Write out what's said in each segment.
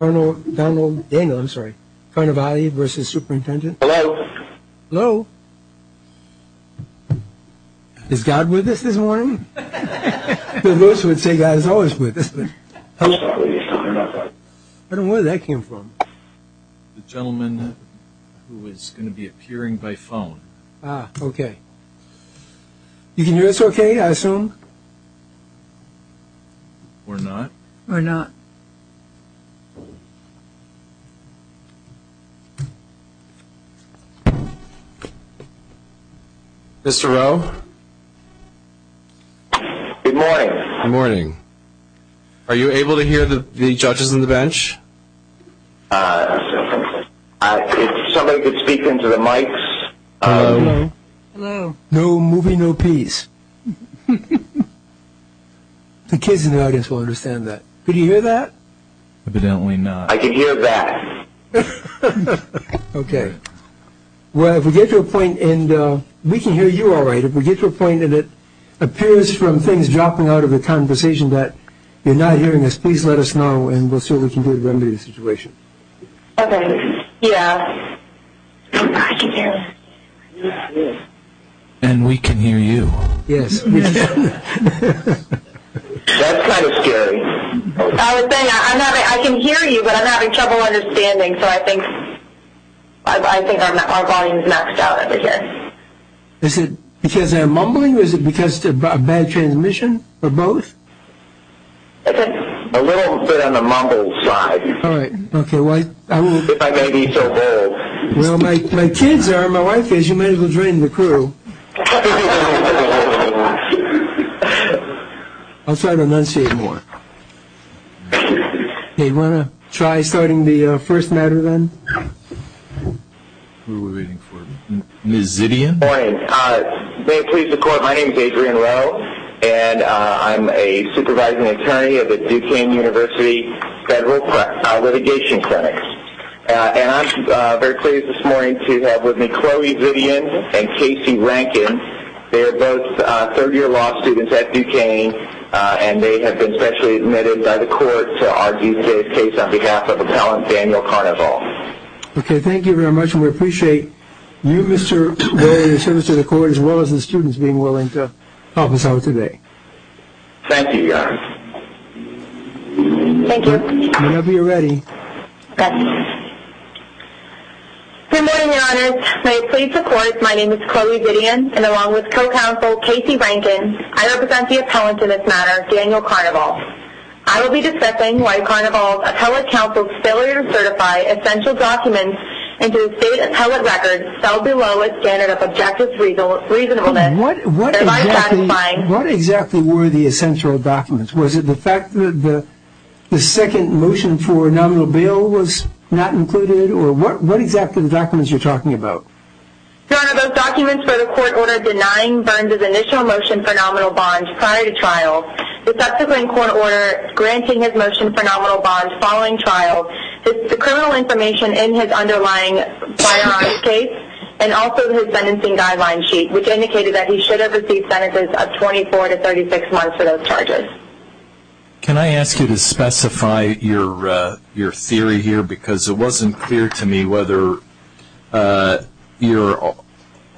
Arnold Donald Daniel I'm sorry kind of I versus superintendent hello hello is God with us this morning the most would say God is always with us I don't know where that came from the gentleman who is going to be appearing by phone okay you mr. oh good morning morning are you able to hear the the judges in the bench no movie no peace the kids in the audience will understand that did you hear that okay well if we get to a point and we can hear you all right if we get to a point and it appears from things dropping out of the conversation that you're not hearing this please let us know and we'll see what we can do to I can hear you but I'm having trouble understanding so I think I think I'm not following the next out of it yet is it because I'm mumbling was it because to bad transmission or both a little bit on the mumbles side all right okay well my kids are my wife is you might as well drain the crew I'll try to enunciate more they want to try starting the first matter then mrs. idiot morning please support my name is Adrian well and I'm a supervising attorney at the Duquesne University federal litigation clinic and I'm very pleased this morning to have with me Chloe Vivian and Casey Rankin they're both third-year law students at Duquesne and they have been specially admitted by the court to argue today's case on behalf of a talent Daniel okay thank you very much we appreciate you mr. to the court as well as the students being willing to help us out today thank you thank you whenever you're ready my name is Chloe Vivian and along with co-counsel Casey Rankin I represent the appellant in this matter Daniel Carnival I will be discussing why appellate counsel's failure to certify essential documents and to state appellate records fell below a standard of objectives reasonable reasonable then what what exactly what exactly were the essential documents was it the fact that the the second motion for a nominal bill was not included or what what exactly the documents you're talking about denying burns of initial motion for nominal bond prior to trial the following trial the criminal information in his underlying case and also the sentencing guideline sheet which indicated that he should have received benefits of 24 to 36 months for those charges can I ask you to specify your your theory here because it wasn't clear to me whether your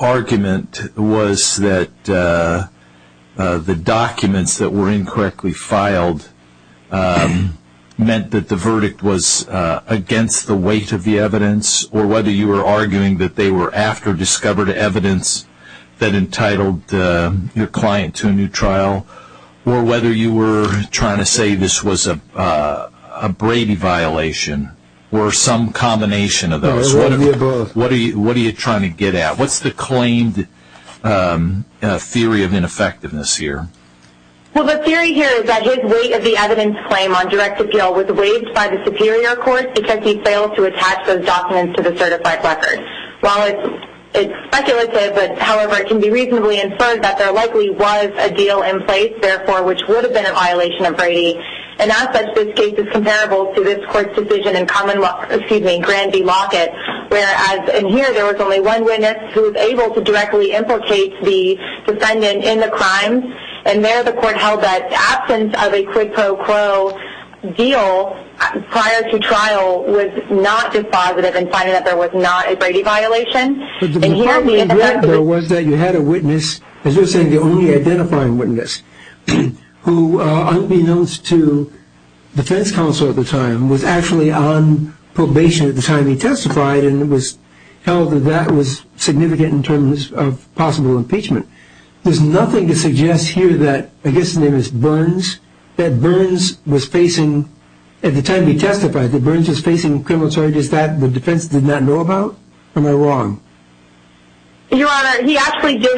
argument was that the documents that were incorrectly filed meant that the verdict was against the weight of the evidence or whether you were arguing that they were after discovered evidence that entitled your client to a new trial or whether you were trying to say this was a Brady violation or some combination of those what are you what are you trying to get at what's the claimed theory of effectiveness here claim on direct appeal with the way it is superior of course because he failed to attach the documents to the certified record well it's speculative but however it can be reasonably inferred that there likely was a deal in place therefore which would have been a violation of Brady and that's a good case is comparable to this court decision in common excuse me grandi locket whereas in here there was only one witness who is able to directly implicate the defendant in the crime and there the court held that absence of a quid pro quo deal prior to trial was not dispositive and finding that there was not a Brady violation and here was that you had a witness as you're saying the only identifying witness who unbeknownst to defense counsel at the time was actually on probation at the time he testified and it was held that that was significant in terms of possible impeachment there's nothing to suggest here that his name is Burns that Burns was facing at the time he testified the bridge is facing criminal charges that the defense did not know about wrong examined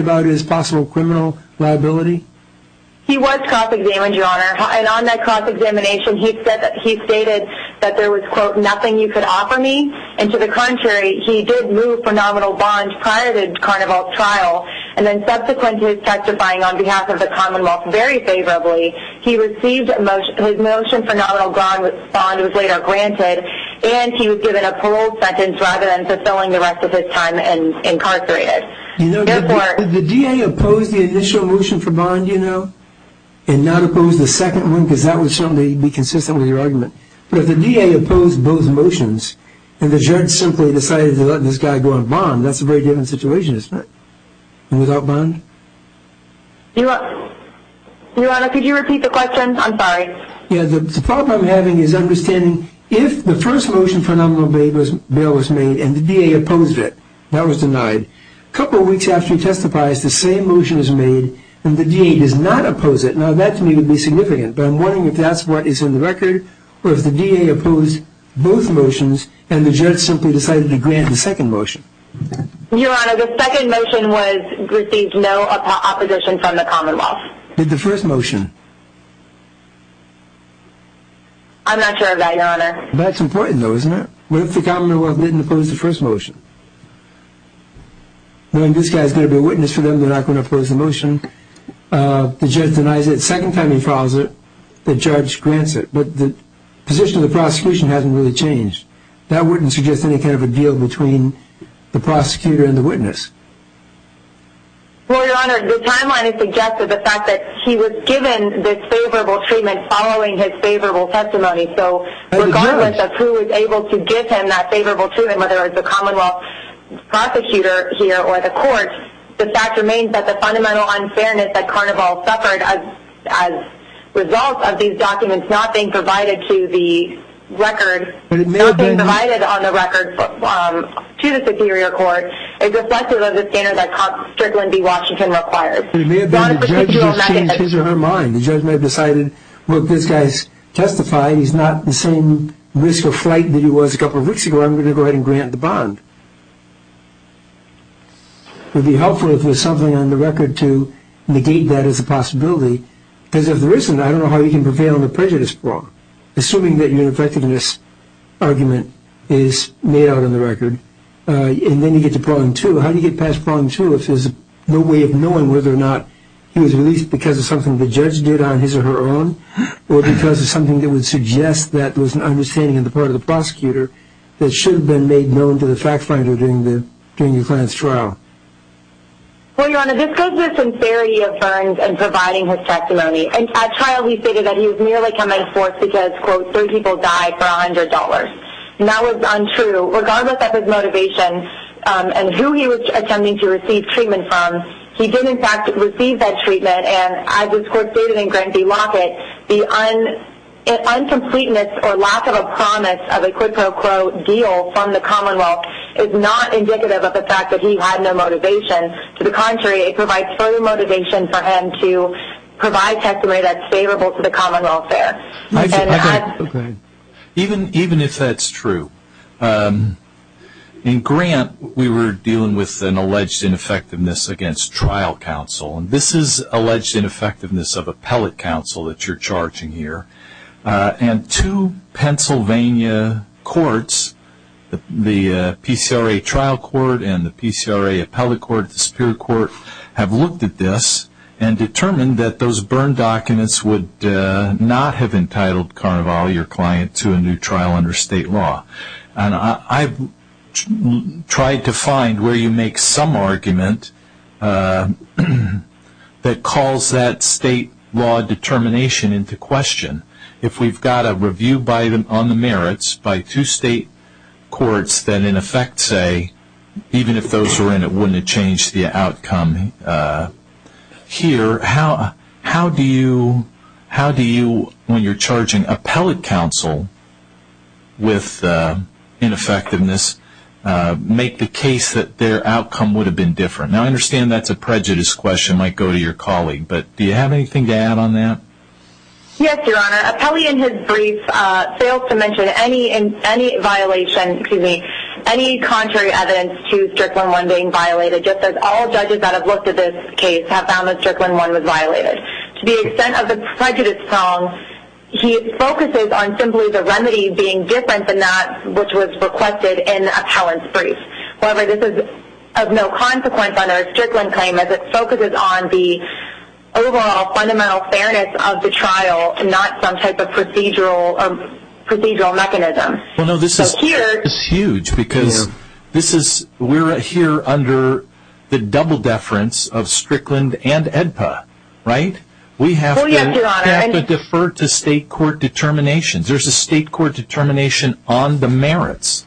about his possible criminal liability he was cross-examined your Honor and on that cross-examination he said that he stated that there was quote nothing you could offer me and to the contrary he did move for nominal bond prior to the trial and then subsequently testifying on behalf of the Commonwealth very favorably he received a motion for nominal bond was later granted and he was given a parole sentence rather than fulfilling the rest of his time and incarcerated you know the DA opposed the initial motion for bond you know and not oppose the second one because that was something to be consistent with your argument but if the DA opposed both this guy going bond that's a very different situation is that without bond your Honor could you repeat the question I'm sorry yeah the problem having is understanding if the first motion for nominal bail was bail was made and the DA opposed it that was denied a couple weeks after he testifies the same motion is made and the DA does not oppose it now that to me would be significant but I'm wondering if that's what is in the record or if the DA opposed both motions and the judge simply decided to grant the second motion your Honor the second motion was received no opposition from the Commonwealth did the first motion I'm not sure about your Honor that's important though isn't it what if the Commonwealth didn't oppose the first motion when this guy's gonna be a witness for them they're not going to oppose the motion the judge denies it second time he files it the judge grants it but the position of the prosecution hasn't really changed that wouldn't suggest any kind of a deal between the prosecutor and the witness your Honor the timeline is suggested the fact that he was given this favorable treatment following his favorable testimony so regardless of who was able to give him that favorable treatment whether it's a Commonwealth prosecutor here or the court the fact remains that the fundamental unfairness that being provided to the record provided on the record to the Superior Court is reflective of the standard that Constable Strickland v. Washington requires his or her mind the judge may have decided look this guy's testifying he's not the same risk of flight that he was a couple of weeks ago I'm gonna go ahead and grant the bond would be helpful if there's something on the record to negate that as a possibility because if there isn't I don't know how you can get on the prejudice floor assuming that your effectiveness argument is made out on the record and then you get to point to how do you get past one two if there's no way of knowing whether or not he was released because of something the judge did on his or her own or because of something that would suggest that there was an understanding of the part of the prosecutor that should have been made known to the fact finder during the during your client's trial we're gonna discuss this in theory of ferns and providing his testimony and at trial he stated that he was merely coming forth because quote three people died for $100 now it's untrue regardless of his motivation and who he was attempting to receive treatment from he did in fact receive that treatment and I just quote stated in grantee locket the un and uncompleteness or lack of a promise of a quid pro quo deal from the Commonwealth is not indicative of the fact that he had no motivation to the contrary it provides further motivation for him to provide testimony that's favorable to the common welfare even even if that's true in grant we were dealing with an alleged ineffectiveness against trial counsel and this is alleged ineffectiveness of appellate counsel that you're charging here and to Pennsylvania courts the PCRA trial court and the PCRA appellate court the Superior Court have looked at this and determined that those burn documents would not have entitled carnival your client to a new trial under state law and I've tried to find where you make some argument that calls that state law determination into question if we've got a review by them on the merits by two state courts that in effect say even if those were in it wouldn't change the outcome here how how do you how do you when you're charging appellate counsel with ineffectiveness make the case that their outcome would have been different now I understand that's a prejudice question might go to your colleague but do you have anything to add on that yes in his brief failed to mention any in any violation excuse me any contrary evidence to strickland-1 being violated just as all judges that have looked at this case have found that strickland-1 was violated to the extent of the prejudice song he focuses on simply the remedy being different than that which was requested in appellant's brief however this is of no consequence under a strickland claim as it focuses on the overall fundamental fairness of the procedural of procedural mechanism well no this is here it's huge because this is we're right here under the double deference of strickland and edpa right we have to defer to state court determinations there's a state court determination on the merits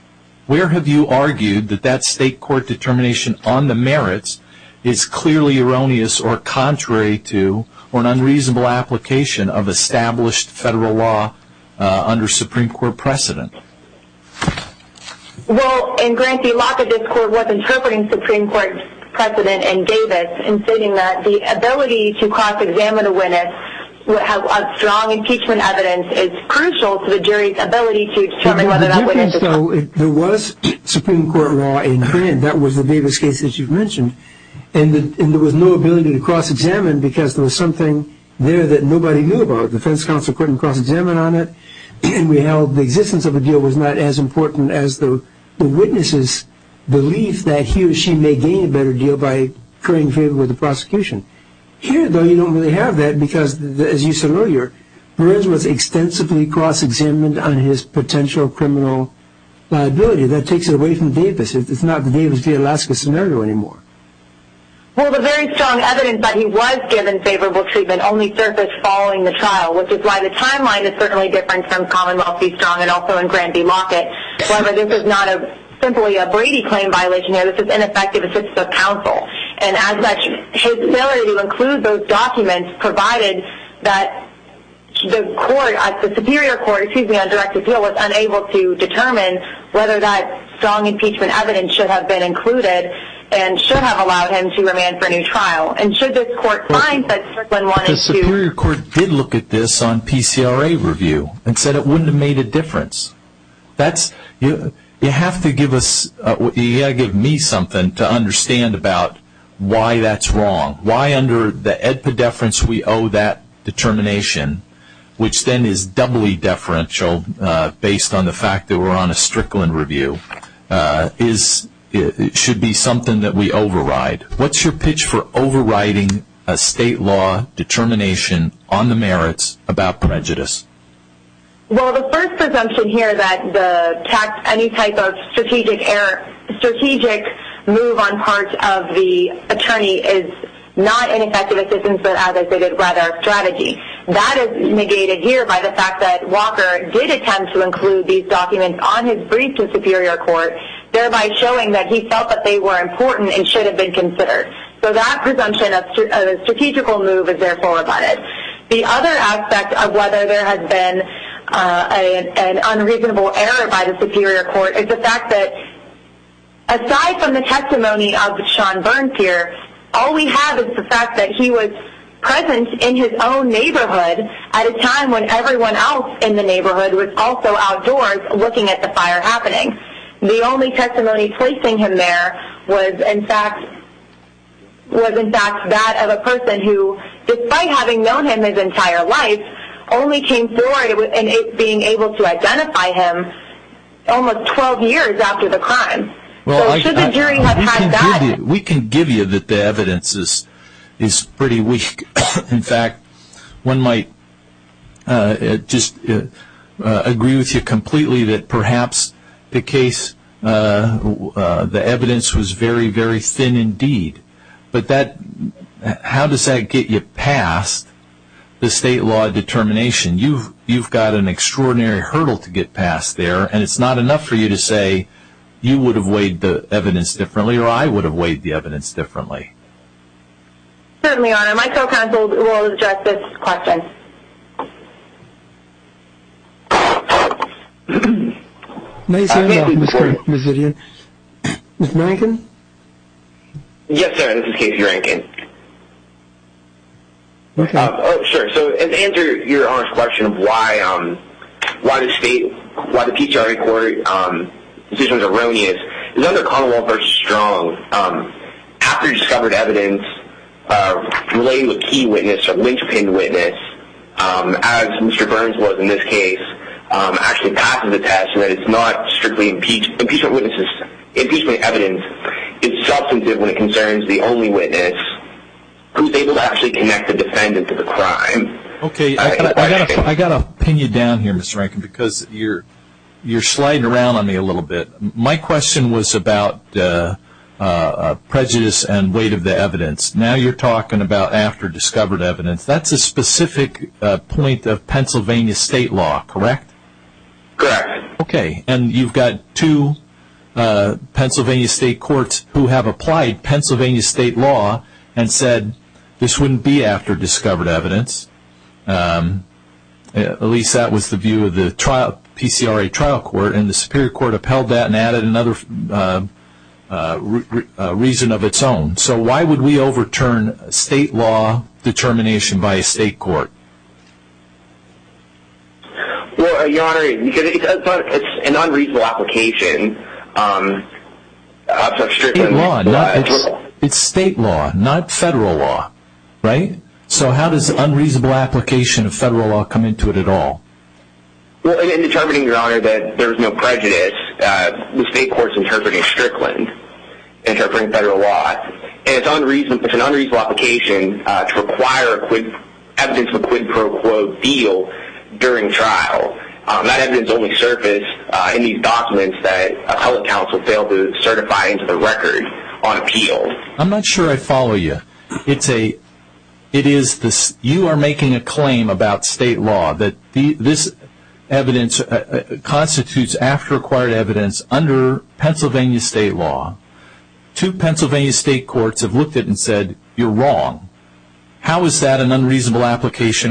where have you argued that that state court determination on the merits is clearly erroneous or contrary to or an established federal law under Supreme Court precedent well in grantee locket this court was interpreting Supreme Court precedent and Davis in stating that the ability to cross-examine a witness would have a strong impeachment evidence is crucial to the jury's ability to determine whether that was so there was Supreme Court law in hand that was the Davis case that you've mentioned and there was no ability to cross-examine because there was something there that nobody knew about defense counsel couldn't cross-examine on it and we held the existence of a deal was not as important as the witnesses belief that he or she may gain a better deal by occurring favor with the prosecution here though you don't really have that because as you said earlier was extensively cross-examined on his potential criminal liability that takes it away from Davis it's not Davis v. Alaska scenario anymore well the very strong evidence that he was given favorable treatment only surfaced following the trial which is why the timeline is certainly different from Commonwealth be strong and also in grantee locket whether this is not a simply a Brady claim violation here this is ineffective assistance of counsel and as such his ability to include those documents provided that the court at the Superior Court excuse me on direct appeal was unable to determine whether that strong impeachment evidence should have been included and should have allowed him to remand for a new trial and should this court find that Strickland wanted to the Superior Court did look at this on PCRA review and said it wouldn't have made a difference that's you you have to give us what you gotta give me something to understand about why that's wrong why under the epideference we owe that determination which then is doubly deferential based on the fact that we're on a Strickland review is it should be something that we override what's your pitch for overriding a state law determination on the merits about prejudice well the first assumption here that the tax any type of strategic error strategic move on part of the attorney is not an effective assistance but as I said it rather strategy that is negated here by the fact that Walker did attempt to include these documents on his brief to be considered so that presumption of a strategical move is therefore about it the other aspect of whether there has been an unreasonable error by the Superior Court is the fact that aside from the testimony of the Sean Burns here all we have is the fact that he was present in his own neighborhood at a time when everyone else in the neighborhood was also outdoors looking at the fire happening the only testimony placing him there was in fact was in fact that of a person who despite having known him his entire life only came forward with and it being able to identify him almost 12 years after the crime well we can give you that the evidence is is pretty weak in fact one might just agree with you completely that perhaps the case the evidence was very very thin indeed but that how does that get you past the state law determination you've you've got an extraordinary hurdle to get past there and it's not enough for you to say you would have weighed the evidence differently or I would have weighed the evidence differently because you're you're sliding around on me a little bit my question was about prejudice and weight of the evidence now you're talking about after discovered evidence that's a specific point of Pennsylvania state law correct ok and you've got to Pennsylvania State courts who have applied Pennsylvania State law and said this wouldn't be after discovered evidence at least that was the view of the trial PCRA trial court in the Superior Court upheld that and added another reason of its own so why would we overturn state law determination by a state court unreasonable application it's state law not federal law right so how does unreasonable application of federal law come into it at all there's no prejudice federal law it's unreasonable application to require a quid pro quo deal during trial that evidence only surfaced in these documents that a public counsel failed to certify into the record on appeal I'm not sure I follow you it's a it is this you are making a claim about state law that the this evidence constitutes after acquired evidence under Pennsylvania State law to Pennsylvania State courts have looked at and said you're wrong how is that an determination applying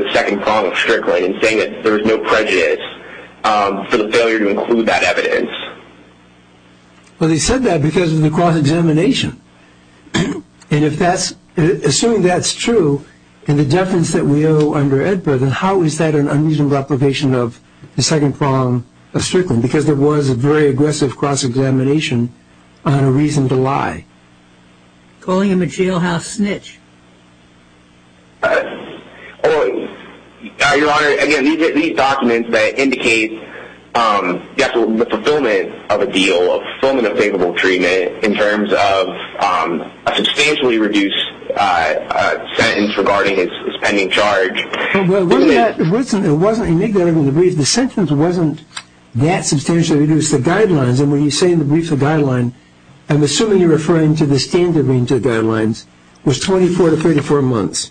the second column of Strickland saying that there's no prejudice for the failure to include that evidence well they said that because of the cross-examination and if that's assuming that's true in the deference that we owe under Edburgh then how is that an unreasonable application of the second column of Strickland because there was a very aggressive cross-examination on a reason to lie calling him a jailhouse snitch your honor again these documents that indicate the fulfillment of a deal of fulfillment of favorable treatment in terms of a substantially reduced sentence regarding his pending charge the sentence wasn't that substantially reduced the guidelines and when you say into the standard range of guidelines was 24 to 34 months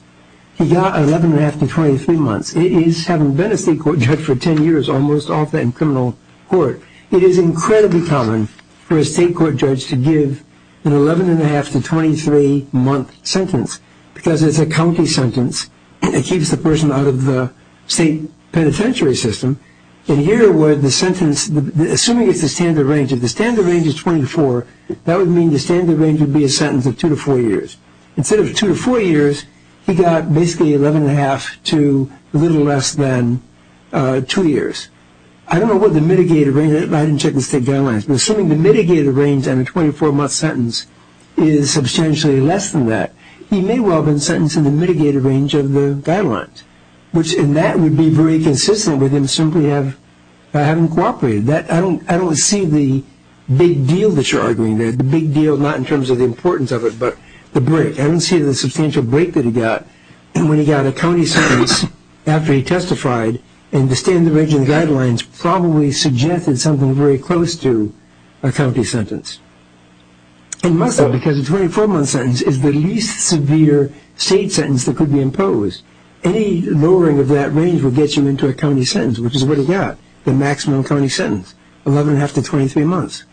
he got 11 and a half to 23 months it is haven't been a state court judge for 10 years almost often criminal court it is incredibly common for a state court judge to give an 11 and a half to 23 month sentence because it's a county sentence it keeps the person out of the state penitentiary system in here where the sentence assuming it's a standard range of the standard range is 24 that would mean the standard range would be a sentence of two to four years instead of two to four years he got basically 11 and a half to little less than two years I don't know what the mitigated range I didn't check the state guidelines but assuming the mitigated range and a 24 month sentence is substantially less than that he may well have been sentenced to the mitigated range of the guidelines which in that would be very consistent with him simply have I haven't cooperated that I don't I don't see the big deal that you're arguing there's a big deal not in terms of the importance of it but the break I don't see the substantial break that he got and when he got a county sentence after he testified and the standard range of the guidelines probably suggested something very close to a county sentence and must have because the 24 month sentence is the least severe state sentence that could be imposed any lowering of that range will get you into a county sentence which is what he got the maximum county sentence 11 and a half to 23 months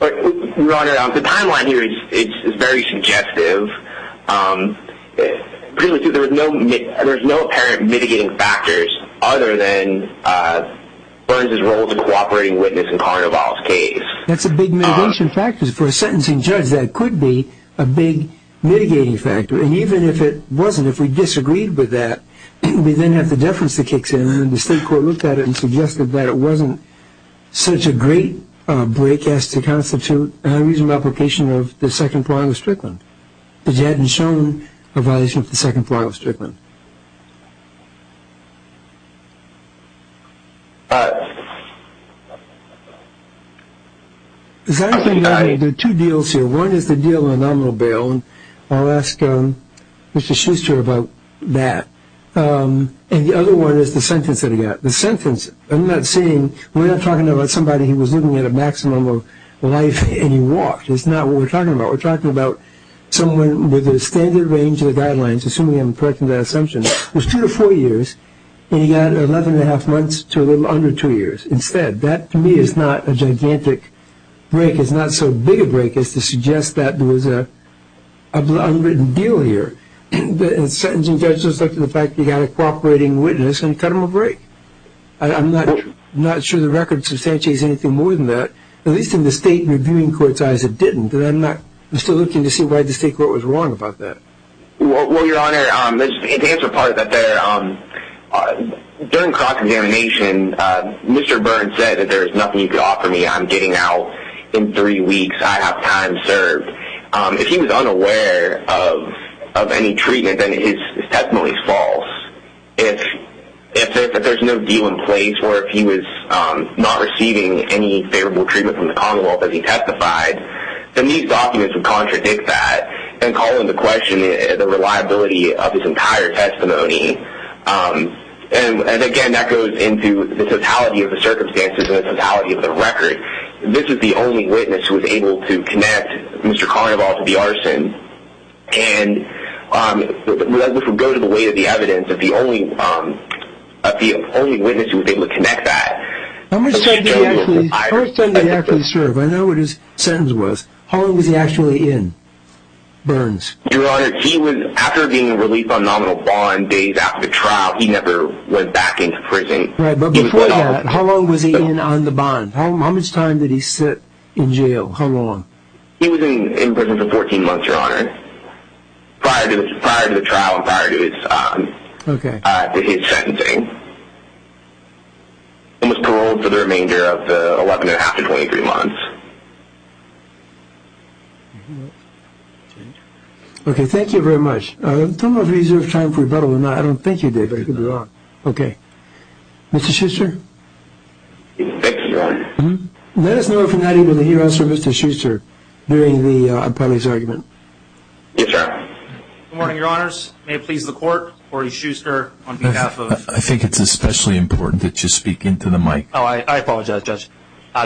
the timeline here is very suggestive there's no apparent mitigating factors other than Burns's role as a cooperating witness in Carnival's case that's a big mitigation factors for a sentencing judge that could be a big mitigating factor and even if it wasn't if we disagreed with that we then have the deference that kicks in and the state court looked at it and suggested that it wasn't such a great break as to constitute a reasonable application of the second point of Strickland because you hadn't shown a violation of the second point of Strickland there are two deals here one is the deal on nominal bail and I'll ask Mr. Schuster about that and the other one is the sentence that he got the sentence I'm not saying we're not talking about somebody who was living at a maximum of life and he walked it's not what we're talking about we're talking about someone with a standard range of the guidelines assuming I'm correcting that assumption was two to four years and he got eleven and a half months to a little under two years instead that to me is not a unwritten deal here and the sentencing judge looked at the fact that he got a cooperating witness and cut him a break I'm not not sure the record substantiates anything more than that at least in the state reviewing court's eyes it didn't but I'm not I'm still looking to see why the state court was wrong about that well your honor the answer part of that there um during cross-examination Mr. Byrne said that there's nothing you can offer me I'm getting out in three weeks I have time served if he was unaware of any treatment then his testimony is false if there's no deal in place or if he was not receiving any favorable treatment from the Commonwealth as he testified then these documents would contradict that and call into question the reliability of his entire testimony and again that goes into the totality of the record this is the only witness who was able to connect Mr. Carnival to the arson and this would go to the weight of the evidence if the only if the only witness who was able to connect that I'm going to say the first time they actually served I know what his sentence was how long was he actually in Burns your honor he was after being released on nominal bond days after the trial he never went back into prison how long was he in on the bond how much time did he sit in jail how long he was in prison for 14 months your honor prior to prior to the trial prior to his okay his sentencing he was paroled for the remainder of the 11 and a half to 23 months okay thank you very much I don't think you did very good okay mr. Schuster let us know if you're not even the US or mr. Schuster during the appellee's argument morning your honors may it please the court Cory Schuster on behalf of I think it's especially important that you speak into the mic oh I apologize judge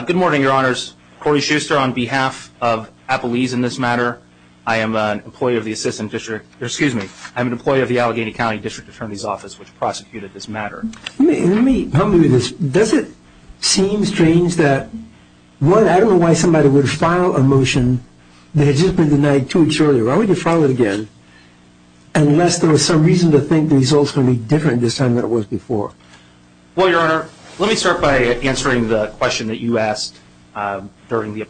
good morning your honors Cory Schuster on behalf of Apple ease in this matter I am an employee of the assistant district excuse me I'm an employee of the Allegheny County District Attorney's Office which prosecuted this matter does it seem strange that what I don't know why somebody would file a motion they had just been denied two weeks earlier why would you follow it again unless there was some reason to think these also be different this time that was before well your honor let me start by answering the question that you asked during the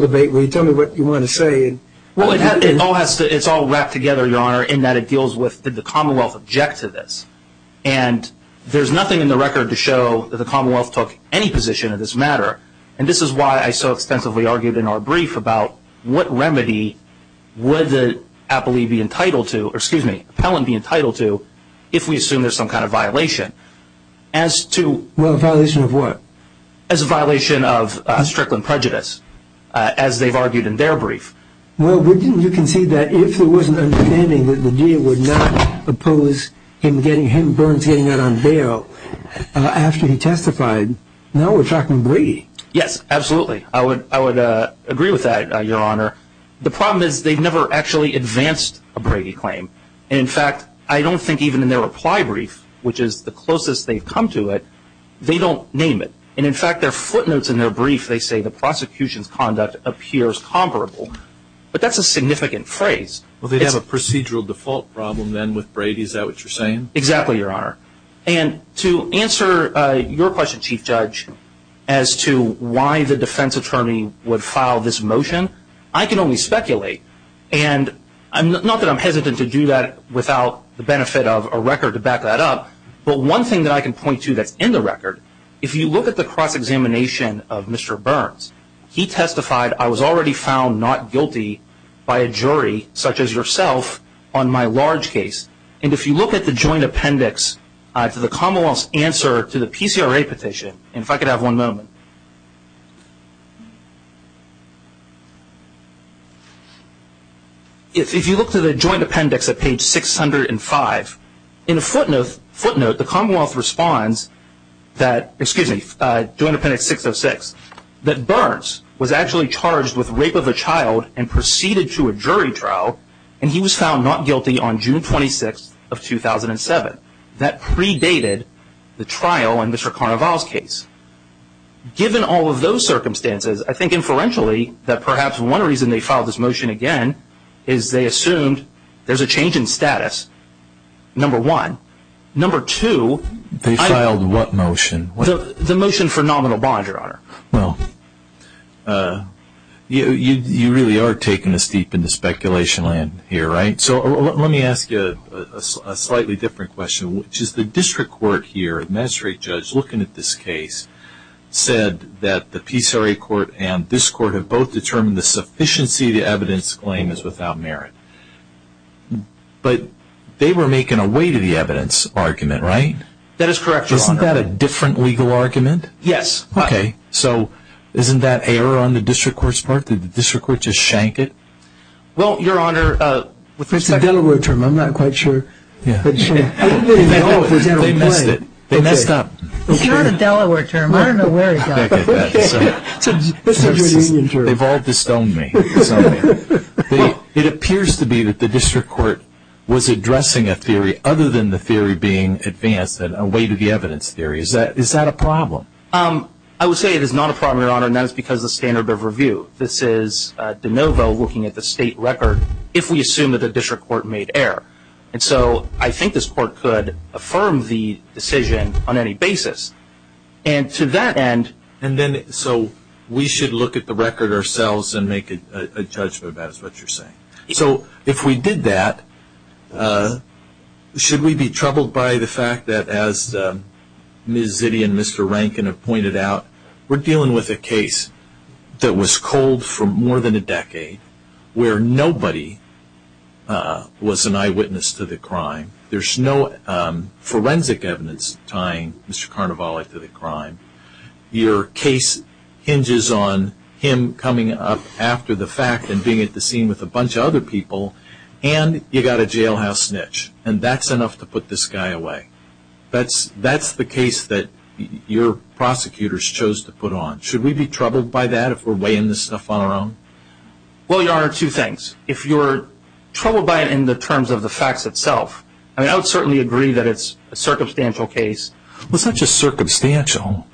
debate we tell me what you want to say well it has it all has to it's all wrapped together your honor in that it deals with the Commonwealth object to this and there's nothing in the record to show that the Commonwealth took any position of this matter and this is why I so extensively argued in our brief about what remedy would the appellee be entitled to or excuse me appellant be entitled to if we assume there's some kind of violation as to what as a violation of Strickland prejudice as they've argued in their brief well we didn't you can see that if it wasn't understanding that the deal would not oppose him getting him burns getting out on bail after he testified now we're talking Brady yes absolutely I would I would agree with that your honor the problem is they've never actually advanced a Brady claim in fact I don't think even in their reply brief which is the closest they've come to it they don't name it and in fact their footnotes in their brief they say the prosecution's conduct appears comparable but that's a significant phrase well they'd have a procedural default problem then with Brady's that what you're saying exactly your honor and to answer your question chief judge as to why the defense attorney would file this motion I can only speculate and I'm not that I'm hesitant to do that without the benefit of a record to back that up but one thing that I can point to that's in the record if you look at the cross-examination of mr. Burns he testified I was already found not guilty by a jury such as yourself on my large case and if you look at the joint appendix to the Commonwealth's answer to the PCRA petition and if I could have one moment if you look to the joint appendix at page 605 in a footnote footnote the Commonwealth responds that excuse me doing appendix 606 that Burns was actually charged with rape of a child and proceeded to a jury trial and he was found not guilty on June 26th of 2007 that predated the trial and mr. Carnaval's case given all of those circumstances I think inferentially that perhaps one reason they filed this motion again is they assumed there's a change in status number one number two they filed what motion the motion for nominal bond your honor well you really are taking us deep into speculation land here right so let me ask you a slightly different question which is the district court here magistrate judge looking at this case said that the PCRA court and this court have both determined the sufficiency the evidence claim is without merit but they were making a way to the evidence argument right that is correct isn't that a different legal argument yes okay so isn't that error on the district courts part that the district court just shank it well your honor with the Delaware term I'm not quite sure it appears to be that the district court was addressing a theory other than the theory being advanced and a way to the evidence theory is that is that a problem um I would say it is not a problem your honor and that is because the standard of review this is de novo looking at the state record if we assume that the district court made error and so I think this court could affirm the decision on any basis and to that end and then so we should look at the record ourselves and make it a judgment that's what you're saying so if we did that should we be troubled by the fact that as Miss Ziddy and mr. Rankin have pointed out we're dealing with a case that was cold for more than a decade where nobody was an eyewitness to the crime there's no forensic evidence tying mr. Carnivalic to the crime your case hinges on him coming up after the fact and being at the scene with a bunch of other people and you got a jailhouse snitch and that's enough to put this guy away that's that's the case that your prosecutors chose to put on should we be troubled by that if we're weighing this stuff on our own well your honor two things if you're troubled by it in the terms of the facts itself I mean I would certainly agree that it's a circumstantial case well it's not just circumstantial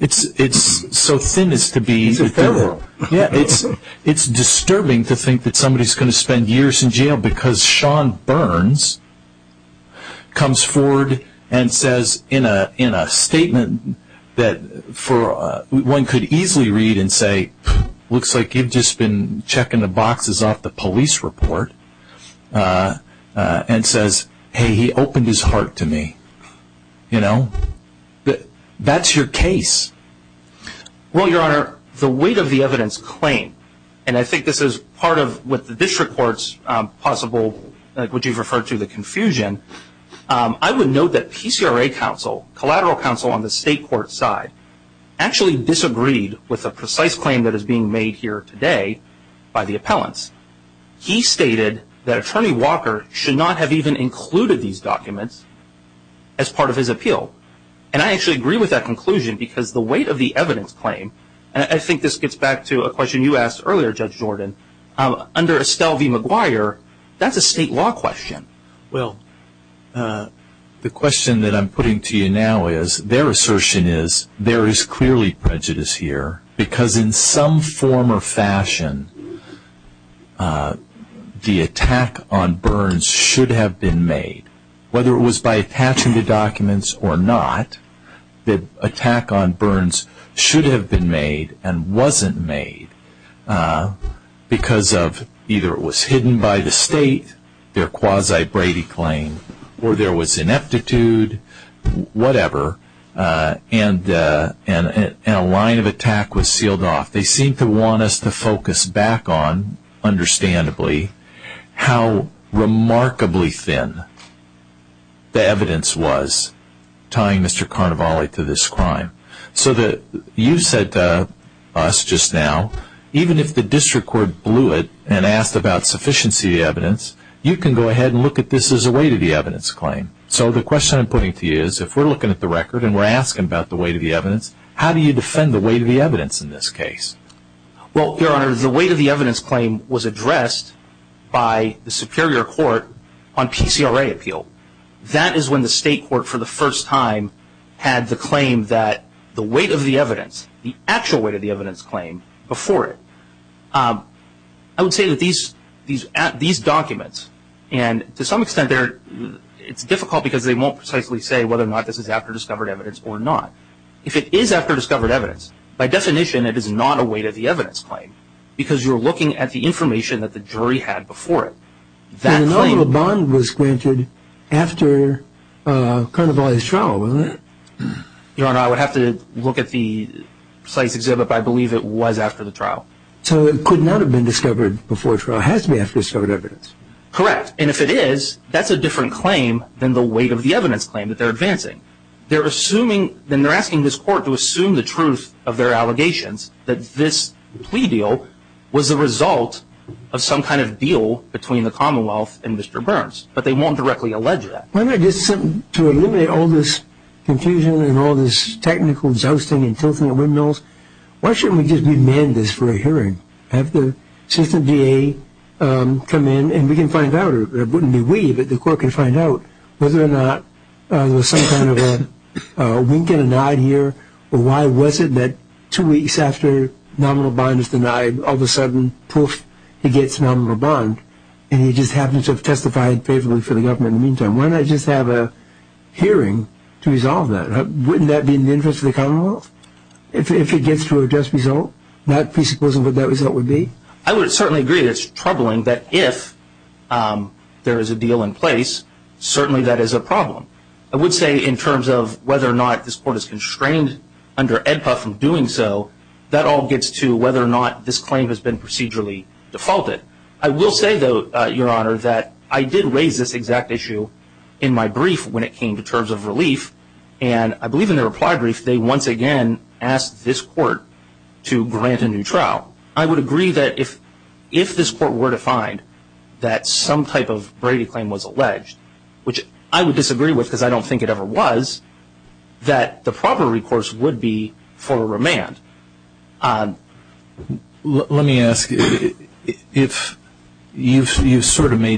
it's it's so thin as to be it's a fair world yeah it's it's disturbing to think that somebody's going to spend years in jail because Sean Burns comes forward and says in a statement that for one could easily read and say looks like you've just been checking the boxes off the police report and says hey he opened his heart to me you know that that's your case well your honor the weight of the evidence claim and I think this is part of what the district courts possible would you collateral counsel on the state court side actually disagreed with a precise claim that is being made here today by the appellants he stated that attorney Walker should not have even included these documents as part of his appeal and I actually agree with that conclusion because the weight of the evidence claim and I think this gets back to a question you asked earlier judge Jordan under Estelle v. McGuire that's a state law question well the question that I'm putting to you now is their assertion is there is clearly prejudice here because in some form or fashion the attack on Burns should have been made whether it was by attaching the documents or not the attack on Burns should have been made and wasn't made because of either it was hidden by the whatever and a line of attack was sealed off they seem to want us to focus back on understandably how remarkably thin the evidence was tying Mr. Carnevale to this crime so that you said to us just now even if the district court blew it and asked about sufficiency evidence you can go ahead and look at this as a way to the evidence claim so the question I'm putting to you is if we're looking at the record and we're asking about the weight of the evidence how do you defend the weight of the evidence in this case well your honor the weight of the evidence claim was addressed by the Superior Court on PCRA appeal that is when the state court for the first time had the claim that the weight of the evidence the actual weight of the evidence claim before it I would say these documents and to some extent they're it's difficult because they won't precisely say whether or not this is after discovered evidence or not if it is after discovered evidence by definition it is not a way to the evidence claim because you're looking at the information that the jury had before it that claim bond was granted after Carnevale's trial was it your honor I would have to look at the site's exhibit but I believe it was after the trial so it could not have been discovered before trial has to be after discovered evidence correct and if it is that's a different claim than the weight of the evidence claim that they're advancing they're assuming then they're asking this court to assume the truth of their allegations that this plea deal was the result of some kind of deal between the Commonwealth and mr. Burns but they won't directly allege that when I did something to eliminate all this confusion and all this technical jousting and tilting the windmills why didn't we just demand this for a hearing have the system VA come in and we can find out it wouldn't be we but the court can find out whether or not there was some kind of a wink and a nod here or why was it that two weeks after nominal bond is denied all of a sudden poof it gets nominal bond and he just happens to have testified favorably for the government in the meantime when I just have a hearing to resolve that wouldn't that be in the interest of the I would certainly agree that it's troubling that if there is a deal in place certainly that is a problem I would say in terms of whether or not this court is constrained under EDPA from doing so that all gets to whether or not this claim has been procedurally defaulted I will say though your honor that I did raise this exact issue in my brief when it came to terms of relief and I believe in the reply brief they once again asked this court to grant a new trial I would agree that if if this court were to find that some type of Brady claim was alleged which I would disagree with because I don't think it ever was that the proper recourse would be for a remand let me ask you if you've been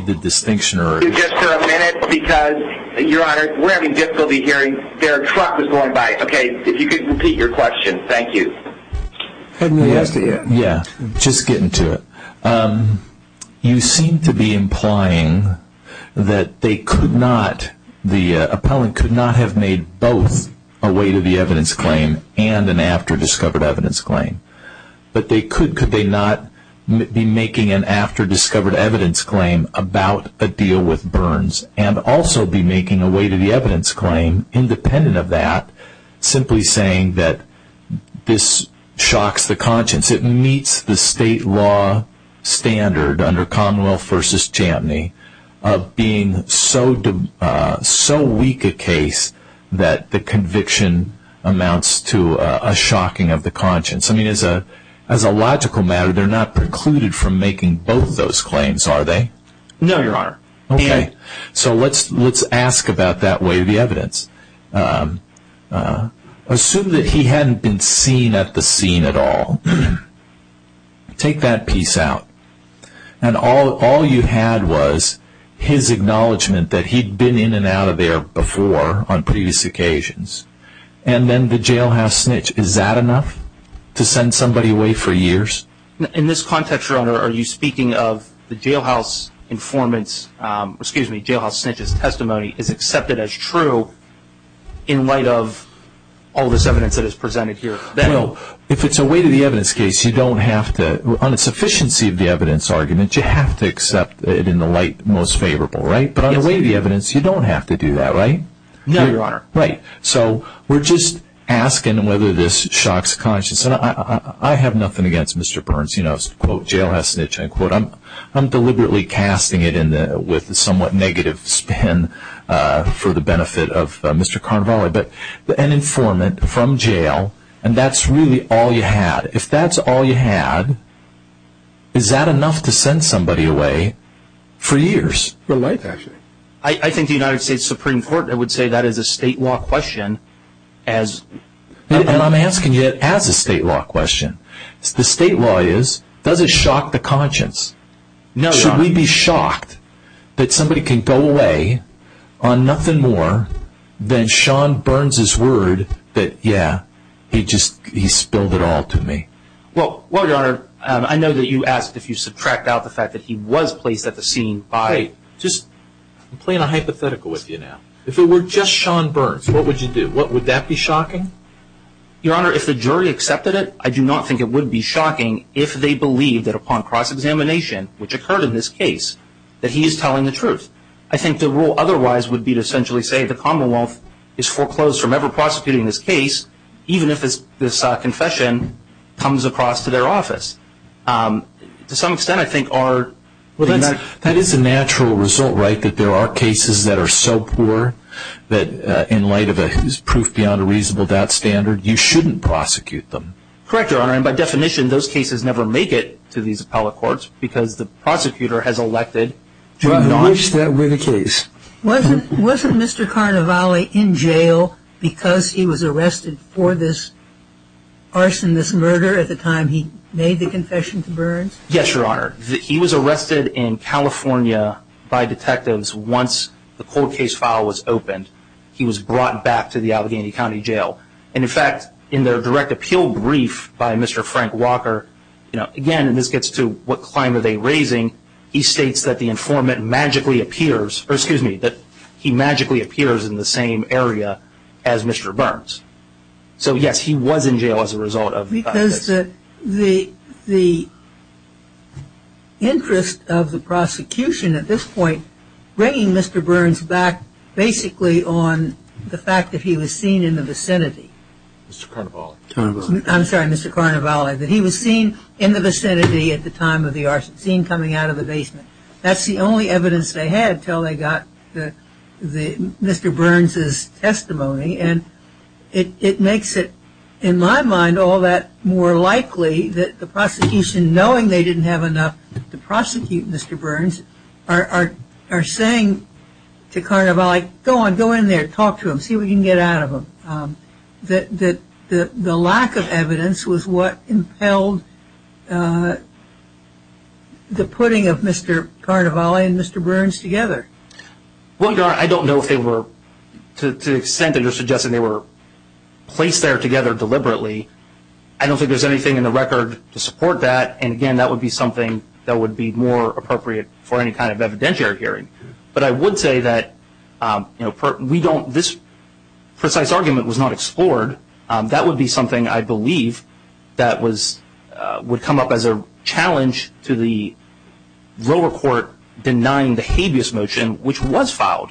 hearing their truck was going by okay if you could repeat your question thank you yeah just getting to it you seem to be implying that they could not the appellant could not have made both a way to the evidence claim and an after-discovered evidence claim but they could could they not be making an after-discovered evidence claim about a deal with Burns and also be making a way to the evidence claim independent of that simply saying that this shocks the conscience it meets the state law standard under Commonwealth versus Chamney of being so dumb so weak a case that the conviction amounts to a shocking of the conscience I mean as a as a logical matter they're not precluded from making both those claims are they no your honor okay so let's let's ask about that way the evidence assume that he hadn't been seen at the scene at all take that piece out and all all you had was his acknowledgement that he'd been in and out of there before on previous occasions and then the jailhouse snitch is that enough to send somebody away for years in this context your honor are you speaking of the jailhouse informants excuse me jailhouse snitches testimony is accepted as true in light of all this evidence that is presented here if it's a way to the evidence case you don't have to on its efficiency of the evidence argument you have to accept it in the light most favorable right but on the way the evidence you don't have to do that right no your honor right so we're just asking whether this shocks conscious and I have nothing against mr. Burns you know quote jailhouse snitch I quote I'm I'm deliberately casting it in a with the somewhat negative spin for the benefit of mr. Carvalho but an informant from jail and that's really all you had if that's all you had is that enough to send somebody away for years for life actually I think the United States Supreme Court I would say that is a state law question as I'm asking it as a state law question the state law is does it shock the conscience no we'd be shocked that somebody can go away on nothing more than Sean Burns's word that yeah he just he spilled it all to me well well your honor I know that you asked if you subtract out the fact that he was placed at the scene by just playing a hypothetical with you now if it were just Sean Burns what would you do what would that be shocking your honor if the jury accepted it I do not think it would be shocking if they believe that upon cross-examination which occurred in this case that he is telling the truth I think the rule otherwise would be to essentially say the Commonwealth is foreclosed from ever prosecuting this case even if it's this confession comes across to their office to some extent I think are well that's that is a natural result right that there are cases that are so poor that in light of a his proof beyond a reasonable doubt standard you shouldn't prosecute them correct your honor and by definition those cases never make it to these appellate courts because the prosecutor has elected to acknowledge that with a case wasn't wasn't mr. Carnevale in jail because he was arrested for this arson this murder at the time he made the confession to Burns yes your honor he was arrested in California by detectives once the court case file was opened he was brought back to the Allegheny County Jail and in fact in their direct appeal brief by mr. Frank Walker you know again this gets to what climb are they raising he states that the informant magically appears or excuse me that he magically appears in the same area as mr. Burns so yes he was in jail as a result of because that the the interest of the prosecution at this point bringing mr. Burns back basically on the fact that he was seen in the vicinity I'm sorry mr. Carnevale that he was seen in the vicinity at the time of the arson scene coming out of the basement that's the only evidence they had till they got the mr. Burns's testimony and it makes it in my mind all that more likely that the prosecution knowing they didn't have enough to prosecute mr. Burns are saying to go in there talk to him see we can get out of him that the lack of evidence was what impelled the putting of mr. Carnevale and mr. Burns together well your honor I don't know if they were to the extent that you're suggesting they were placed there together deliberately I don't think there's anything in the record to support that and again that would be something that would be more appropriate for any kind of evidentiary hearing but I would say that you know we don't this precise argument was not explored that would be something I believe that was would come up as a challenge to the lower court denying the habeas motion which was filed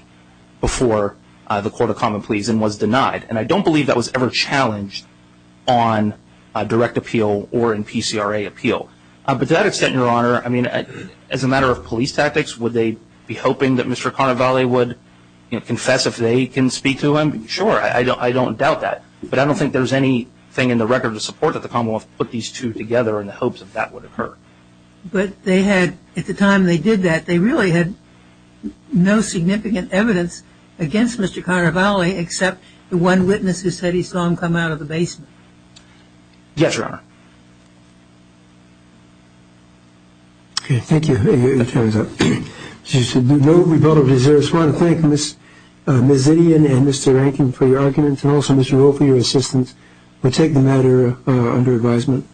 before the court of common pleas and was denied and I don't believe that was ever challenged on direct appeal or in PCRA appeal but that extent your honor I mean as a matter of police tactics would they be if they can speak to him sure I don't I don't doubt that but I don't think there's anything in the record to support that the Commonwealth put these two together in the hopes of that would occur but they had at the time they did that they really had no significant evidence against mr. Carnevale except the one witness who said he saw him come out of the basement yes your honor okay thank you she said no we don't deserve to thank miss mrs. Indian and mr. Rankin for your arguments and also mr. Rowe for your assistance we'll take the matter under advisement